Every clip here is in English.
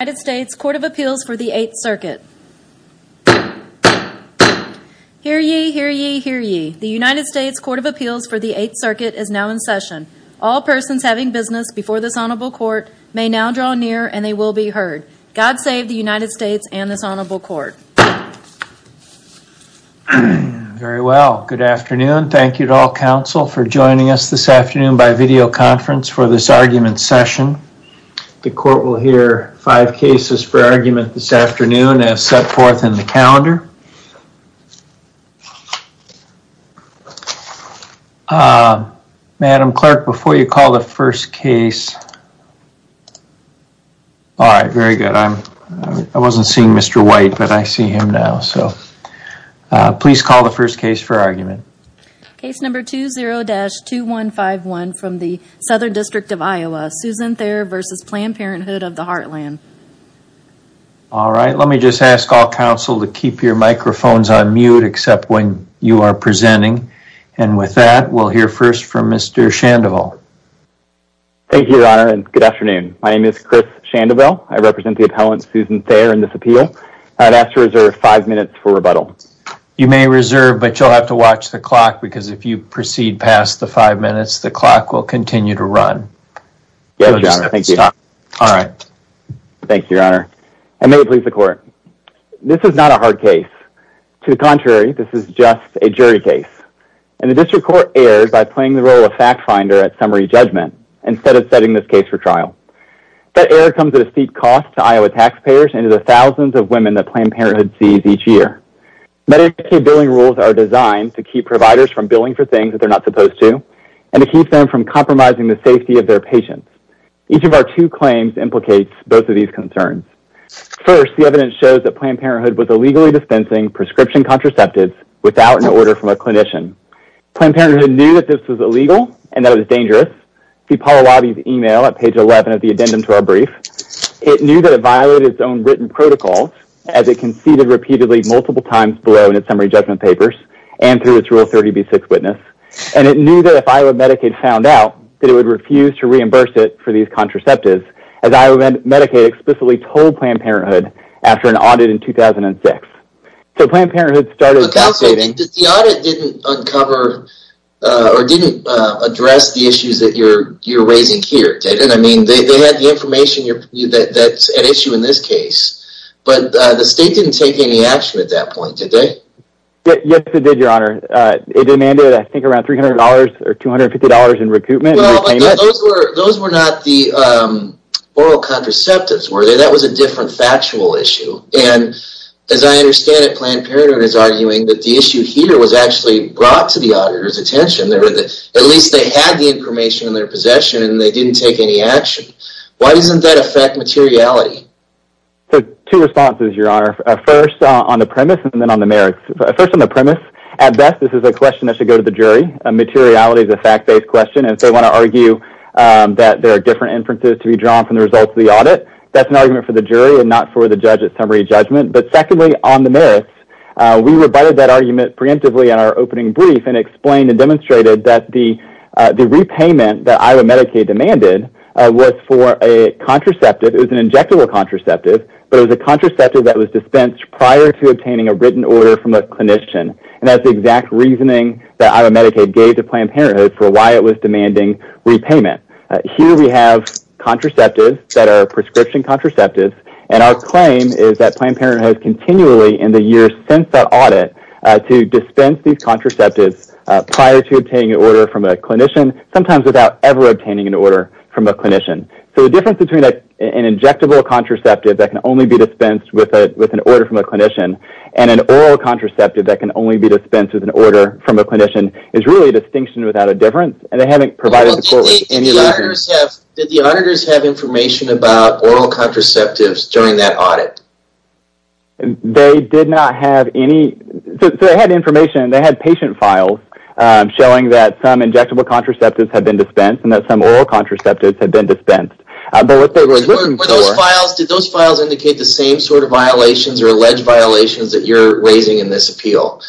United States Court of Appeals for the Eighth Circuit. Hear ye, hear ye, hear ye. The United States Court of Appeals for the Eighth Circuit is now in session. All persons having business before this honorable court may now draw near and they will be heard. God save the United States and this honorable court. Very well. Good afternoon. Thank you to all counsel for joining us this afternoon by videoconference for this argument session. The court will hear five cases for argument this afternoon as set forth in the calendar. Madam clerk, before you call the first case, all right, very good, I wasn't seeing Mr. White but I see him now, so please call the first case for argument. Case number 20-2151 from the Southern District of Iowa, Susan Thayer v. Planned Parenthood of the Heartland. All right, let me just ask all counsel to keep your microphones on mute except when you are presenting. And with that, we'll hear first from Mr. Shandoval. Thank you, your honor, and good afternoon. My name is Chris Shandoval. I represent the appellant Susan Thayer in this appeal. I'd ask to reserve five minutes for rebuttal. You may reserve, but you'll have to watch the clock because if you proceed past the five minutes, the clock will continue to run. Yes, your honor. Thank you. All right. Thank you, your honor. And may it please the court, this is not a hard case. To the contrary, this is just a jury case. And the district court erred by playing the role of fact finder at summary judgment instead of setting this case for trial. That error comes at a steep cost to Iowa taxpayers and to the thousands of women that Planned Medicaid billing rules are designed to keep providers from billing for things that they're not supposed to and to keep them from compromising the safety of their patients. Each of our two claims implicates both of these concerns. First, the evidence shows that Planned Parenthood was illegally dispensing prescription contraceptives without an order from a clinician. Planned Parenthood knew that this was illegal and that it was dangerous. See Paul Alabi's email at page 11 of the addendum to our brief. It knew that it violated its own written protocol as it conceded repeatedly multiple times below in its summary judgment papers and through its rule 30B6 witness. And it knew that if Iowa Medicaid found out that it would refuse to reimburse it for these contraceptives as Iowa Medicaid explicitly told Planned Parenthood after an audit in 2006. So Planned Parenthood started... Account saving. The audit didn't uncover or didn't address the issues that you're raising here, David. And I mean, they had the information that's at issue in this case. But the state didn't take any action at that point, did they? Yes, it did, your honor. It demanded, I think, around $300 or $250 in recoupment. Those were not the oral contraceptives, were they? That was a different factual issue. And as I understand it, Planned Parenthood is arguing that the issue here was actually brought to the auditor's attention. At least they had the information in their possession and they didn't take any action. Why doesn't that affect materiality? Two responses, your honor. First, on the premise and then on the merits. First, on the premise, at best, this is a question that should go to the jury. Materiality is a fact-based question. If they want to argue that there are different inferences to be drawn from the results of the audit, that's an argument for the jury and not for the judge at summary judgment. But secondly, on the merits, we rebutted that argument preemptively in our opening brief and explained and demonstrated that the repayment that Iowa Medicaid demanded was for a contraceptive. It was an injectable contraceptive, but it was a contraceptive that was dispensed prior to obtaining a written order from a clinician. And that's the exact reasoning that Iowa Medicaid gave to Planned Parenthood for why it was demanding repayment. Here we have contraceptives that are prescription contraceptives, and our claim is that Planned Prior to obtaining an order from a clinician, sometimes without ever obtaining an order from a clinician. So the difference between an injectable contraceptive that can only be dispensed with an order from a clinician and an oral contraceptive that can only be dispensed with an order from a clinician is really a distinction without a difference, and they haven't provided the court with any answers. Did the auditors have information about oral contraceptives during that audit? They did not have any. They had information, they had patient files showing that some injectable contraceptives had been dispensed and that some oral contraceptives had been dispensed. Were those files, did those files indicate the same sort of violations or alleged violations that you're raising in this appeal?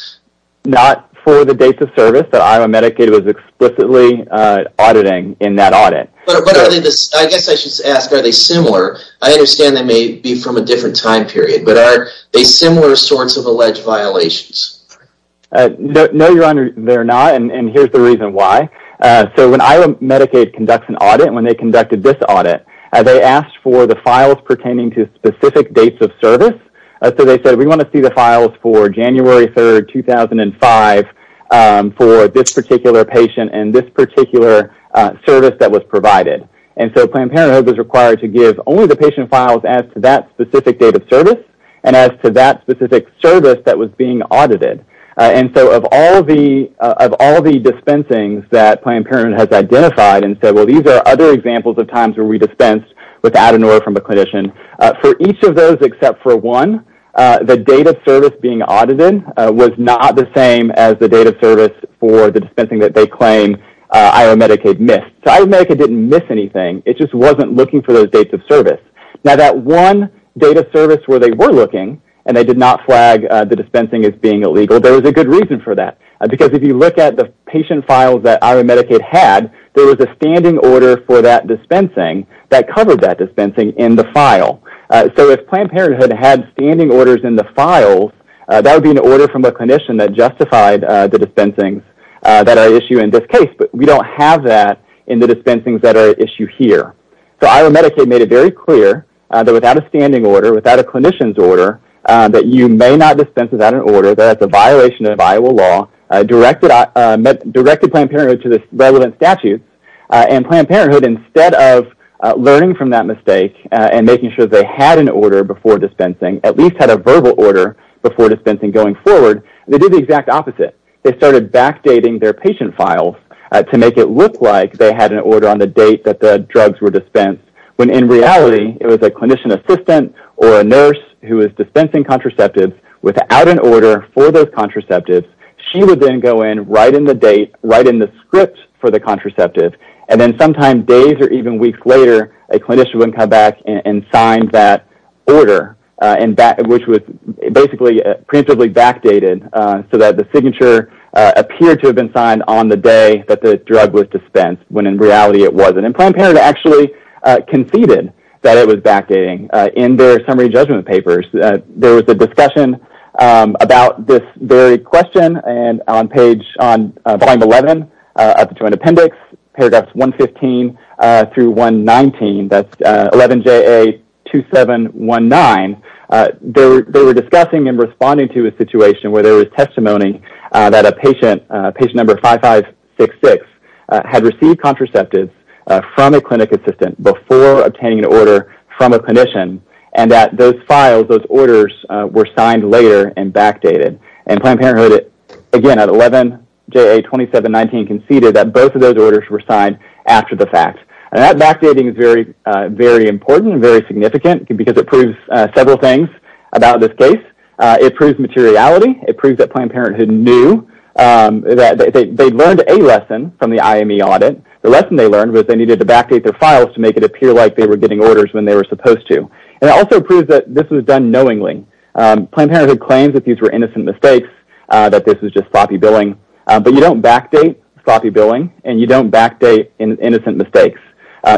Not for the date of service that Iowa Medicaid was explicitly auditing in that audit. I guess I should ask, are they similar? I understand they may be from a different time period, but are they similar sorts of violations? No, Your Honor, they're not, and here's the reason why. So when Iowa Medicaid conducts an audit, when they conducted this audit, they asked for the files pertaining to specific dates of service. So they said, we want to see the files for January 3, 2005 for this particular patient and this particular service that was provided. And so Planned Parenthood was required to give only the patient files as to that specific date of service and as to that specific service that was being audited. And so of all the dispensings that Planned Parenthood has identified and said, well, these are other examples of times where we dispensed without an order from a clinician, for each of those except for one, the date of service being audited was not the same as the date of service for the dispensing that they claim Iowa Medicaid missed. So Iowa Medicaid didn't miss anything. It just wasn't looking for those dates of service. Now that one date of service where they were looking and they did not flag the dispensing as being illegal, there was a good reason for that. Because if you look at the patient files that Iowa Medicaid had, there was a standing order for that dispensing that covered that dispensing in the file. So if Planned Parenthood had standing orders in the files, that would be an order from a clinician that justified the dispensings that are at issue in this case, but we don't have that in the dispensings that are at issue here. So Iowa Medicaid made it very clear that without a standing order, without a clinician's order, that you may not dispense without an order, that it's a violation of Iowa law, directed Planned Parenthood to this relevant statute, and Planned Parenthood, instead of learning from that mistake and making sure they had an order before dispensing, at least had a verbal order before dispensing going forward, they did the exact opposite. They started backdating their patient files to make it look like they had an order on when in reality it was a clinician assistant or a nurse who was dispensing contraceptives without an order for those contraceptives. She would then go in, write in the date, write in the script for the contraceptive, and then sometime days or even weeks later, a clinician would come back and sign that order, which was basically preemptively backdated so that the signature appeared to have been signed on the day that the drug was dispensed when in reality it wasn't. And Planned Parenthood actually conceded that it was backdating in their summary judgment papers. There was a discussion about this very question, and on page 111 of the Joint Appendix, paragraphs 115 through 119, that's 11JA2719, they were discussing and responding to a situation where there was testimony that a patient, patient number 5566, had received contraceptives from a clinic assistant before obtaining an order from a clinician, and that those files, those orders, were signed later and backdated. And Planned Parenthood, again, at 11JA2719, conceded that both of those orders were signed after the fact. And that backdating is very important and very significant because it proves several things about this case. It proves materiality. It proves that Planned Parenthood knew that they learned a lesson from the IME audit. The lesson they learned was they needed to backdate their files to make it appear like they were getting orders when they were supposed to. And it also proves that this was done knowingly. Planned Parenthood claims that these were innocent mistakes, that this was just sloppy billing, but you don't backdate sloppy billing, and you don't backdate innocent mistakes.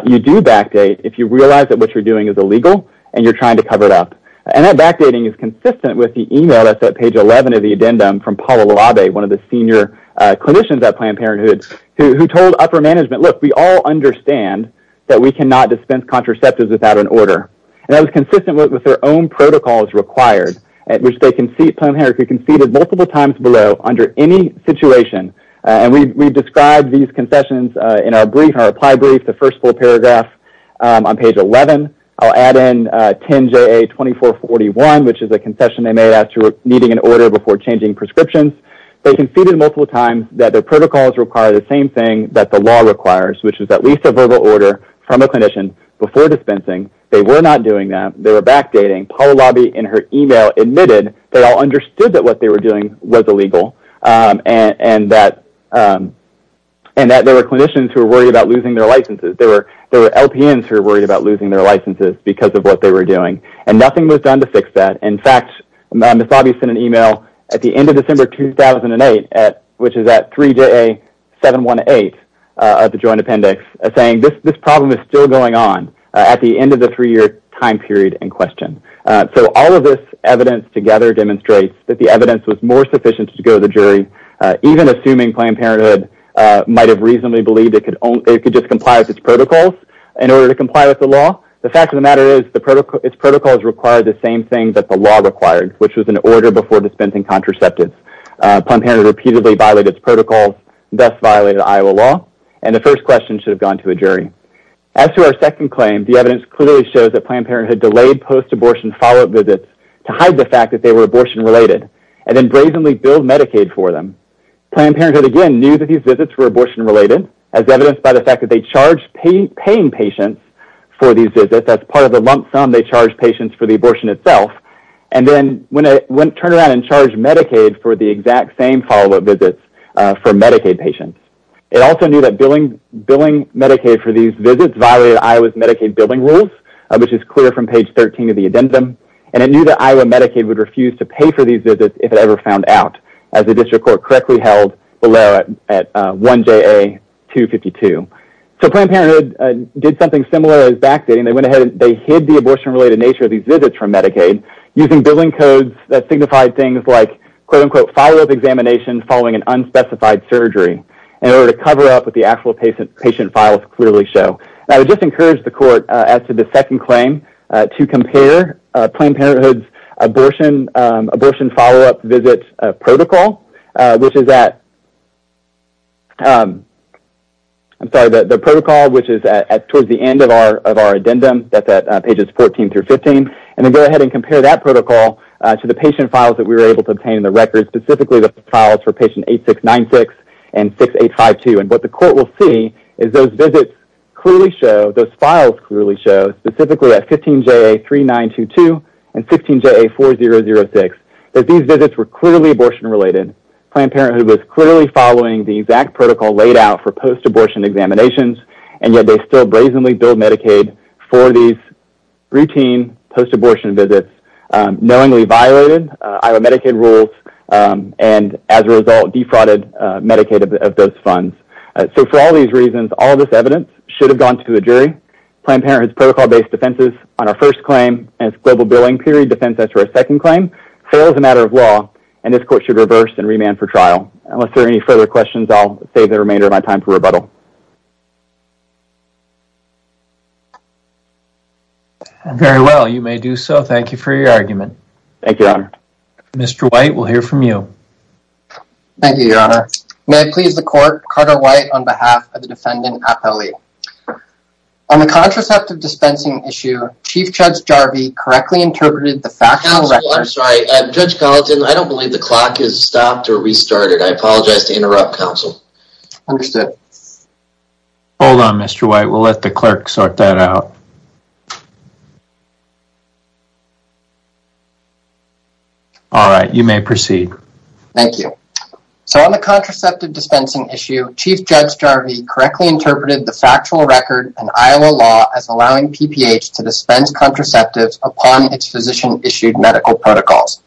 You do backdate if you realize that what you're doing is illegal and you're trying to cover it up. And that backdating is consistent with the email that's at page 11 of the addendum from Paula Labe, one of the senior clinicians at Planned Parenthood, who told upper management, look, we all understand that we cannot dispense contraceptives without an order. And that was consistent with their own protocols required at which they conceded, Planned Parenthood conceded multiple times below under any situation. And we described these concessions in our brief, our reply brief, the first full paragraph on page 11. I'll add in 10JA2441, which is a concession they made after needing an order before changing prescriptions. They conceded multiple times that their protocols require the same thing that the law requires, which is at least a verbal order from a clinician before dispensing. They were not doing that. They were backdating. Paula Labe in her email admitted they all understood that what they were doing was illegal and that there were clinicians who were worried about losing their licenses. There were LPNs who were worried about losing their licenses because of what they were doing. And nothing was done to fix that. In fact, Ms. Obbie sent an email at the end of December 2008, which is at 3JA718 of the Joint Appendix, saying this problem is still going on at the end of the three-year time period in question. So all of this evidence together demonstrates that the evidence was more sufficient to go to the jury, even assuming Planned Parenthood might have reasonably believed it could just comply with its protocols in order to comply with the law. The fact of the matter is its protocols required the same thing that the law required, which was an order before dispensing contraceptives. Planned Parenthood repeatedly violated its protocols, thus violating Iowa law, and the first question should have gone to a jury. As to our second claim, the evidence clearly shows that Planned Parenthood delayed post-abortion follow-up visits to hide the fact that they were abortion-related and then brazenly billed Medicaid for them. Planned Parenthood, again, knew that these visits were abortion-related, as evidenced by the fact that they charged paying patients for these visits. That's part of the lump sum. They charged patients for the abortion itself. And then went and turned around and charged Medicaid for the exact same follow-up visits for Medicaid patients. It also knew that billing Medicaid for these visits violated Iowa's Medicaid billing rules, which is clear from page 13 of the addendum. And it knew that Iowa Medicaid would refuse to pay for these visits if it ever found out, as the district court correctly held below at 1JA252. So Planned Parenthood did something similar as backdating. They hid the abortion-related nature of these visits from Medicaid using billing codes that signified things like, quote-unquote, follow-up examination following an unspecified surgery in order to cover up what the actual patient files clearly show. And I would just encourage the court, as to the second claim, to compare Planned Parenthood's abortion follow-up visit protocol, which is at, I'm sorry, the protocol which is towards the end of our addendum, that's at pages 14 through 15. And then go ahead and compare that protocol to the patient files that we were able to obtain in the records, specifically the files for patient 8696 and 6852. And what the court will see is those visits clearly show, those files clearly show, specifically at 15JA3922 and 15JA4006, that these visits were clearly abortion-related. Planned Parenthood was clearly following the exact protocol laid out for post-abortion examinations, and yet they still brazenly billed Medicaid for these routine post-abortion visits, knowingly violated Iowa Medicaid rules, and as a result defrauded Medicaid of those funds. So for all these reasons, all this evidence should have gone to a jury. Planned Parenthood's protocol-based defenses on our first claim and its global billing period defense as to our second claim, fail as a matter of law. And this court should reverse and remand for trial. Unless there are any further questions, I'll save the remainder of my time for rebuttal. Very well, you may do so. Thank you for your argument. Thank you, Your Honor. Mr. White, we'll hear from you. Thank you, Your Honor. May I please the court, Carter White, on behalf of the defendant, Appelli. On the contraceptive dispensing issue, Chief Judge Jarvie correctly interpreted the factual record Counsel, I'm sorry. Judge Gallatin, I don't believe the clock has stopped or restarted. I apologize to interrupt, Counsel. Understood. Hold on, Mr. White. We'll let the clerk sort that out. All right, you may proceed. Thank you. So on the contraceptive dispensing issue, Chief Judge Jarvie correctly interpreted the factual record in Iowa law as allowing PPH to dispense contraceptives upon its physician-issued medical protocols.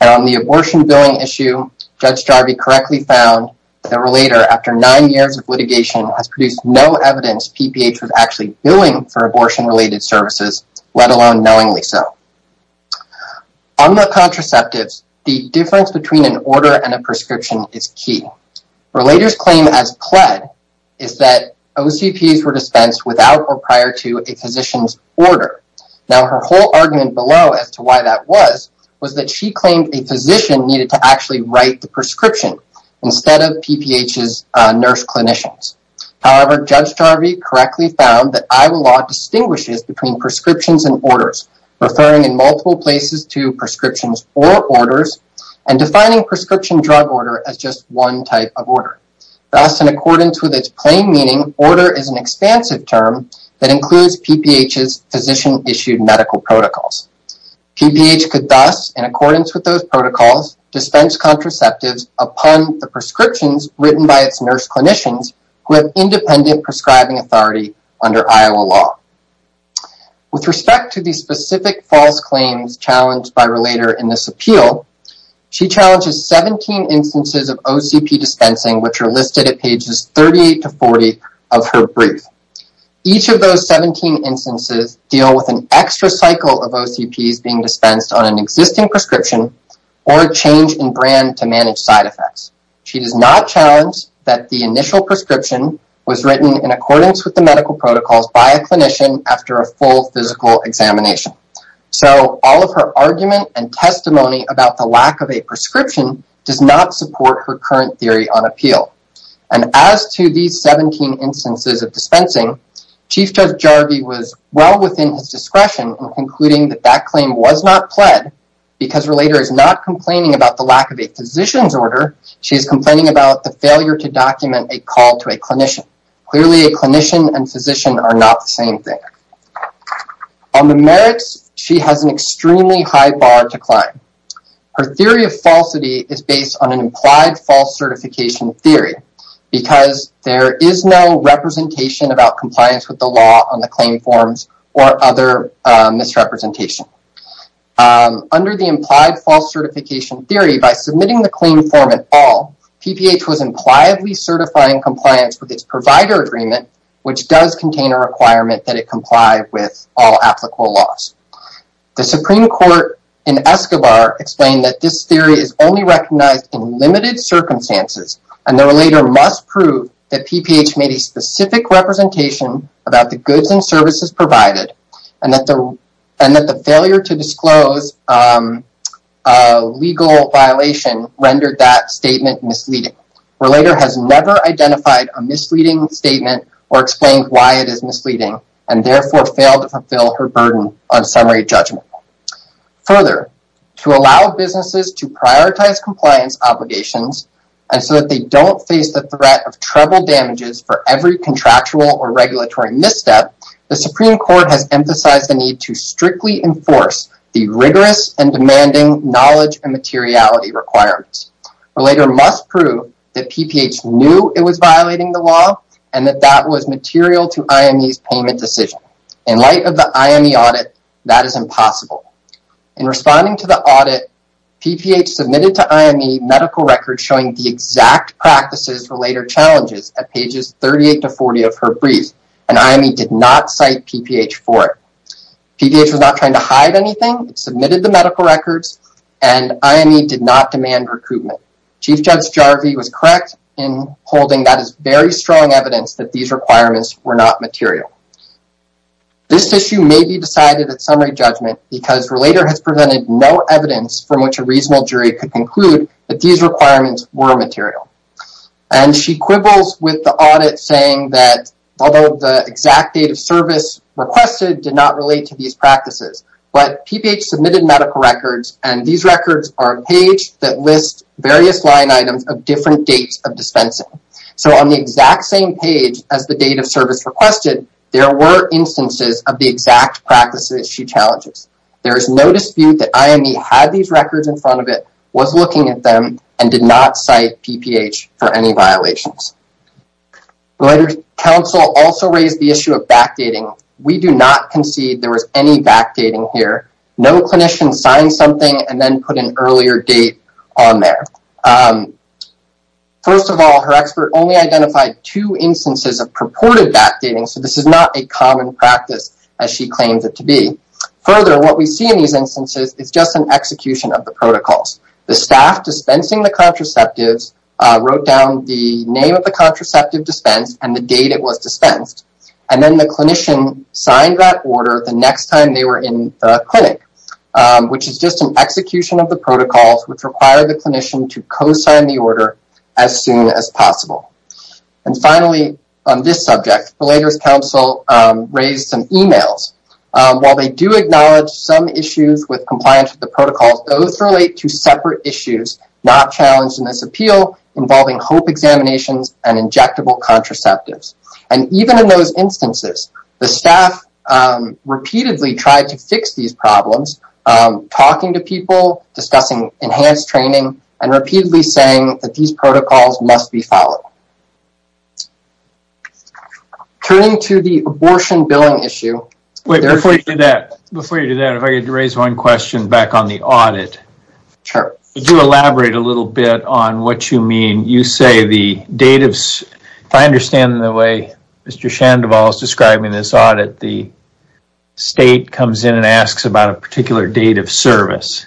And on the abortion billing issue, Judge Jarvie correctly found that a relator, after nine years of litigation, has produced no evidence PPH was actually billing for abortion-related services, let alone knowingly so. On the contraceptives, the difference between an order and a prescription is key. Relators claim, as pled, is that OCPs were dispensed without or prior to a physician's order. Now, her whole argument below as to why that was, was that she claimed a physician needed to actually write the prescription instead of PPH's nurse clinicians. However, Judge Jarvie correctly found that Iowa law distinguishes between prescriptions and orders, referring in multiple places to prescriptions or orders, and defining prescription drug order as just one type of order. Thus, in accordance with its plain meaning, order is an expansive term that includes PPH's physician-issued medical protocols. PPH could thus, in accordance with those protocols, dispense contraceptives upon the prescriptions written by its nurse clinicians who have independent prescribing authority under Iowa law. With respect to the specific false claims challenged by Relator in this appeal, she challenges 17 instances of OCP dispensing, which are listed at pages 38 to 40 of her brief. Each of those 17 instances deal with an extra cycle of OCPs being dispensed on an existing prescription or a change in brand to manage side effects. She does not challenge that the initial prescription was written in accordance with the medical protocols by a clinician after a full physical examination. So, all of her argument and testimony about the lack of a prescription does not support her current theory on appeal. And as to these 17 instances of dispensing, Chief Judge Jarvie was well within his discretion in concluding that that claim was not pled because Relator is not complaining about the lack of a physician's order, she is complaining about the failure to document a call to a clinician. Clearly, a clinician and physician are not the same thing. On the merits, she has an extremely high bar to climb. Her theory of falsity is based on an implied false certification theory because there is no representation about compliance with the law on the claim forms or other misrepresentation. Under the implied false certification theory, by submitting the claim form at all, PPH was impliedly certifying compliance with its provider agreement, which does contain a requirement that it comply with all applicable laws. The Supreme Court in Escobar explained that this theory is only recognized in limited circumstances and the Relator must prove that PPH made a specific representation about the goods and services provided and that the failure to disclose a legal violation rendered that statement misleading. Relator has never identified a misleading statement or explained why it is misleading and therefore failed to fulfill her burden on summary judgment. Further, to allow businesses to prioritize compliance obligations and so that they don't face the threat of trouble damages for every contractual or regulatory misstep, the Supreme Court has emphasized the need to strictly enforce the rigorous and demanding knowledge and materiality requirements. Relator must prove that PPH knew it was violating the law and that that was material to IME's payment decision. In light of the IME audit, that is impossible. In responding to the audit, PPH submitted to IME medical records showing the exact practices Relator challenges at pages 38 to 40 of her brief and IME did not cite PPH for it. PPH was not trying to hide anything. It submitted the medical records and IME did not demand recoupment. Chief Judge Jarvi was correct in holding that as very strong evidence that these requirements were not material. This issue may be decided at summary judgment because Relator has presented no evidence from which a reasonable jury could conclude that these requirements were material. She quibbles with the audit saying that although the exact date of service requested did not relate to these practices, but PPH submitted medical records and these records are a page that lists various line items of different dates of dispensing. On the exact same page as the date of service requested, there were instances of the exact practices she challenges. There is no dispute that IME had these records in front of it, was looking at them, and did not cite PPH for any violations. Relator's counsel also raised the issue of backdating. We do not concede there was any backdating here. No clinician signed something and then put an earlier date on there. First of all, her expert only identified two instances of purported backdating, so this is not a common practice as she claims it to be. Further, what we see in these instances is just an execution of the protocols. The staff dispensing the contraceptives wrote down the name of the contraceptive dispensed and the date it was dispensed, and then the clinician signed that order the next time they were in the clinic, which is just an execution of the protocols which require the clinician to co-sign the order as soon as possible. And finally, on this subject, Relator's counsel raised some emails. While they do acknowledge some issues with compliance with the protocols, those relate to separate issues not challenged in this appeal involving hope examinations and injectable contraceptives. And even in those instances, the staff repeatedly tried to fix these problems, talking to people, discussing enhanced training, and repeatedly saying that these protocols must be followed. Turning to the abortion billing issue... Wait, before you do that, before you do that, if I could raise one question back on the audit. Sure. Could you elaborate a little bit on what you mean? You say the date of... If I understand the way Mr. Shandoval is describing this audit, the state comes in and asks about a particular date of service.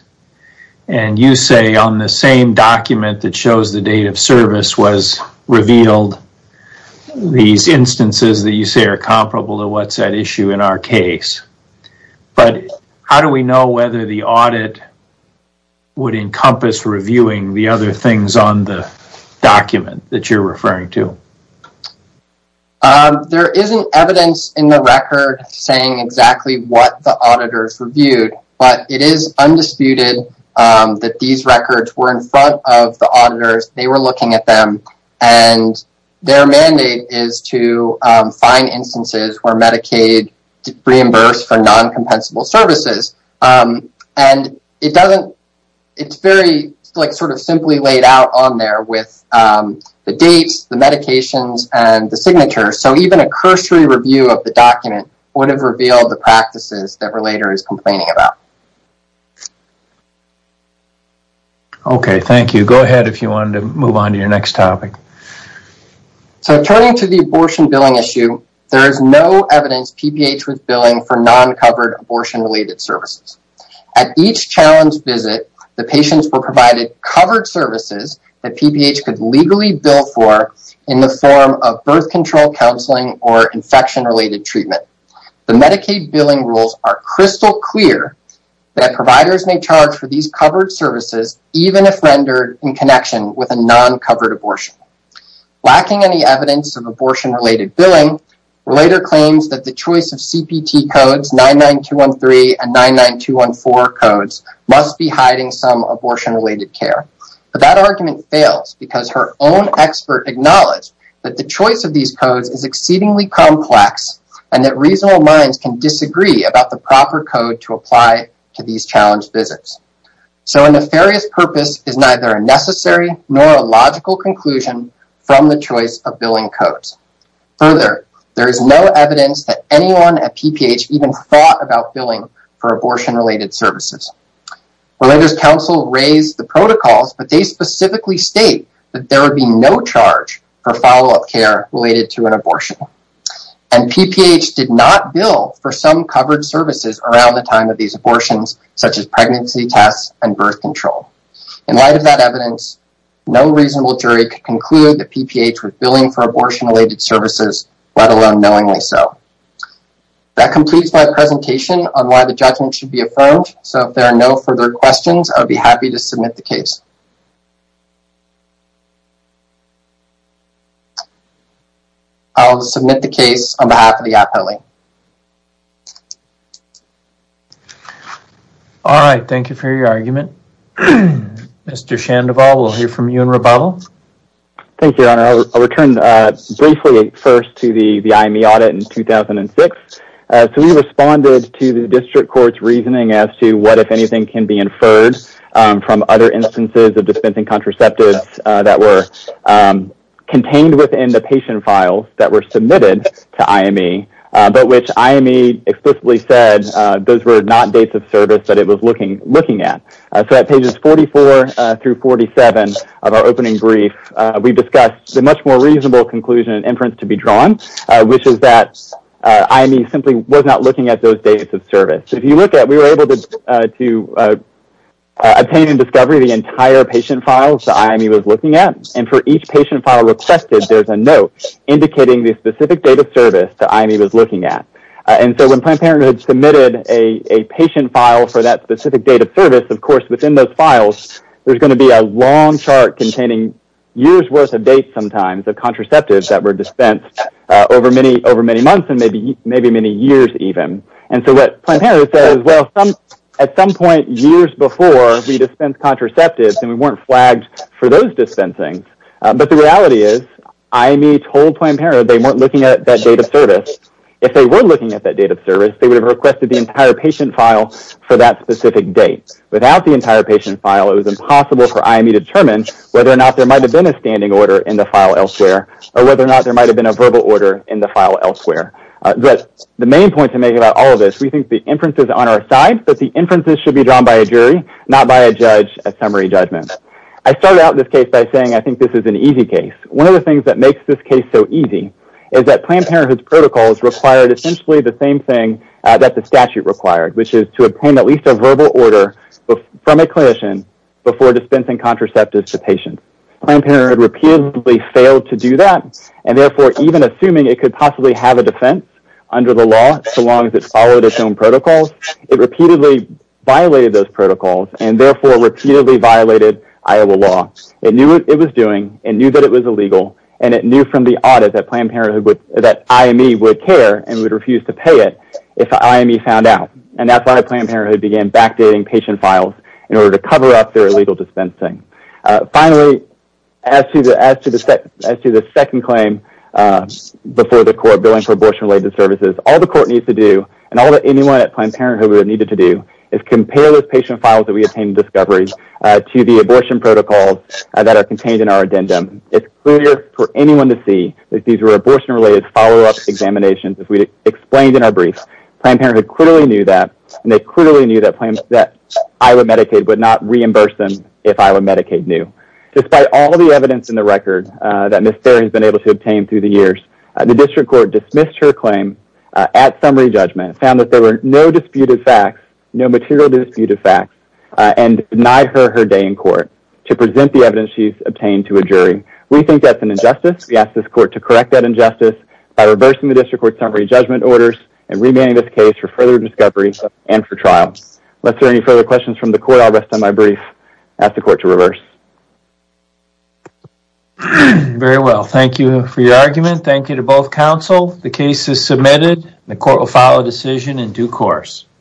And you say on the same document that shows the date of service was revealed, these instances that you say are comparable to what's at issue in our case. But how do we know whether the audit would encompass reviewing the other things on the document that you're referring to? There isn't evidence in the record saying exactly what the auditors reviewed. But it is undisputed that these records were in front of the auditors. They were looking at them. Their mandate is to find instances where Medicaid reimbursed for non-compensable services. It's very simply laid out on there with the dates, the medications, and the signatures. So even a cursory review of the document would have revealed the practices that Relator is complaining about. Okay, thank you. Go ahead if you want to move on to your next topic. So turning to the abortion billing issue, there is no evidence PPH was billing for non-covered abortion-related services. At each challenge visit, the patients were provided covered services that PPH could legally bill for in the form of birth control counseling or infection-related treatment. The Medicaid billing rules are crystal clear that providers may charge for these covered services even if rendered in connection with a non-covered abortion. Lacking any evidence of abortion-related billing, Relator claims that the choice of CPT codes, 99213 and 99214 codes, must be hiding some abortion-related care. But that argument fails because her own expert acknowledged that the choice of these codes is exceedingly complex and that reasonable minds can disagree about the proper code to apply to these challenge visits. So a nefarious purpose is neither a necessary nor a logical conclusion from the choice of billing codes. Further, there is no evidence that anyone at PPH even thought about billing for abortion-related services. Relator's counsel raised the protocols, but they specifically state that there would be no charge for follow-up care related to an abortion. And PPH did not bill for some covered services around the time of these abortions, such as pregnancy tests and birth control. In light of that evidence, no reasonable jury could conclude that PPH was billing for abortion-related services, let alone knowingly so. That completes my presentation on why the judgment should be affirmed, so if there are no further questions, I would be happy to submit the case. I'll submit the case on behalf of the appellee. All right, thank you for your argument. Mr. Shandoval, we'll hear from you in rebuttal. Thank you, Your Honor. I'll return briefly first to the IME audit in 2006. So we responded to the district court's reasoning as to what, if anything, can be inferred from other instances of dispensing contraceptives that were contained within the patient files that were submitted to IME, but which IME explicitly said those were not dates of service that it was looking at. So at pages 44 through 47 of our opening brief, we discussed the much more reasonable conclusion and inference to be drawn, which is that IME simply was not looking at those dates of service. If you look at it, we were able to obtain and discover the entire patient files that IME was looking at, and for each patient file requested, there's a note indicating the specific date of service that IME was looking at. And so when Planned Parenthood submitted a patient file for that specific date of service, of course within those files there's going to be a long chart containing years' worth of dates sometimes of contraceptives that were dispensed over many months and maybe many years even. And so what Planned Parenthood said is, well, at some point years before we dispensed contraceptives and we weren't flagged for those dispensings. But the reality is IME told Planned Parenthood they weren't looking at that date of service. If they were looking at that date of service, they would have requested the entire patient file for that specific date. Without the entire patient file, it was impossible for IME to determine whether or not there might have been a standing order in the file elsewhere or whether or not there might have been a verbal order in the file elsewhere. But the main point to make about all of this, we think the inference is on our side, but the inferences should be drawn by a jury, not by a judge at summary judgment. I start out this case by saying I think this is an easy case. One of the things that makes this case so easy is that Planned Parenthood's protocols required essentially the same thing that the statute required, which is to obtain at least a verbal order from a clinician before dispensing contraceptives to patients. Planned Parenthood repeatedly failed to do that, and therefore even assuming it could possibly have a defense under the law so long as it followed its own protocols, it repeatedly violated those protocols and therefore repeatedly violated Iowa law. It knew what it was doing, it knew that it was illegal, and it knew from the audit that IME would care and would refuse to pay it if IME found out. And that's why Planned Parenthood began backdating patient files in order to cover up their illegal dispensing. Finally, as to the second claim before the court, billing for abortion-related services, all the court needs to do and all that anyone at Planned Parenthood would have needed to do is compare those patient files that we obtained in discovery to the abortion protocols that are contained in our addendum. It's clear for anyone to see that these were abortion-related follow-up examinations, as we explained in our brief. Planned Parenthood clearly knew that, and they clearly knew that Iowa Medicaid would not reimburse them if Iowa Medicaid knew. Despite all the evidence in the record that Ms. Berry has been able to obtain through the years, the district court dismissed her claim at summary judgment, found that there were no disputed facts, no material disputed facts, and denied her her day in court to present the evidence she's obtained to a jury. We think that's an injustice. We ask this court to correct that injustice by reversing the district court's summary judgment orders and remanding this case for further discovery and for trial. Unless there are any further questions from the court, I'll rest on my brief and ask the court to reverse. Very well. Thank you for your argument. Thank you to both counsel. The case is submitted. The court will file a decision in due course.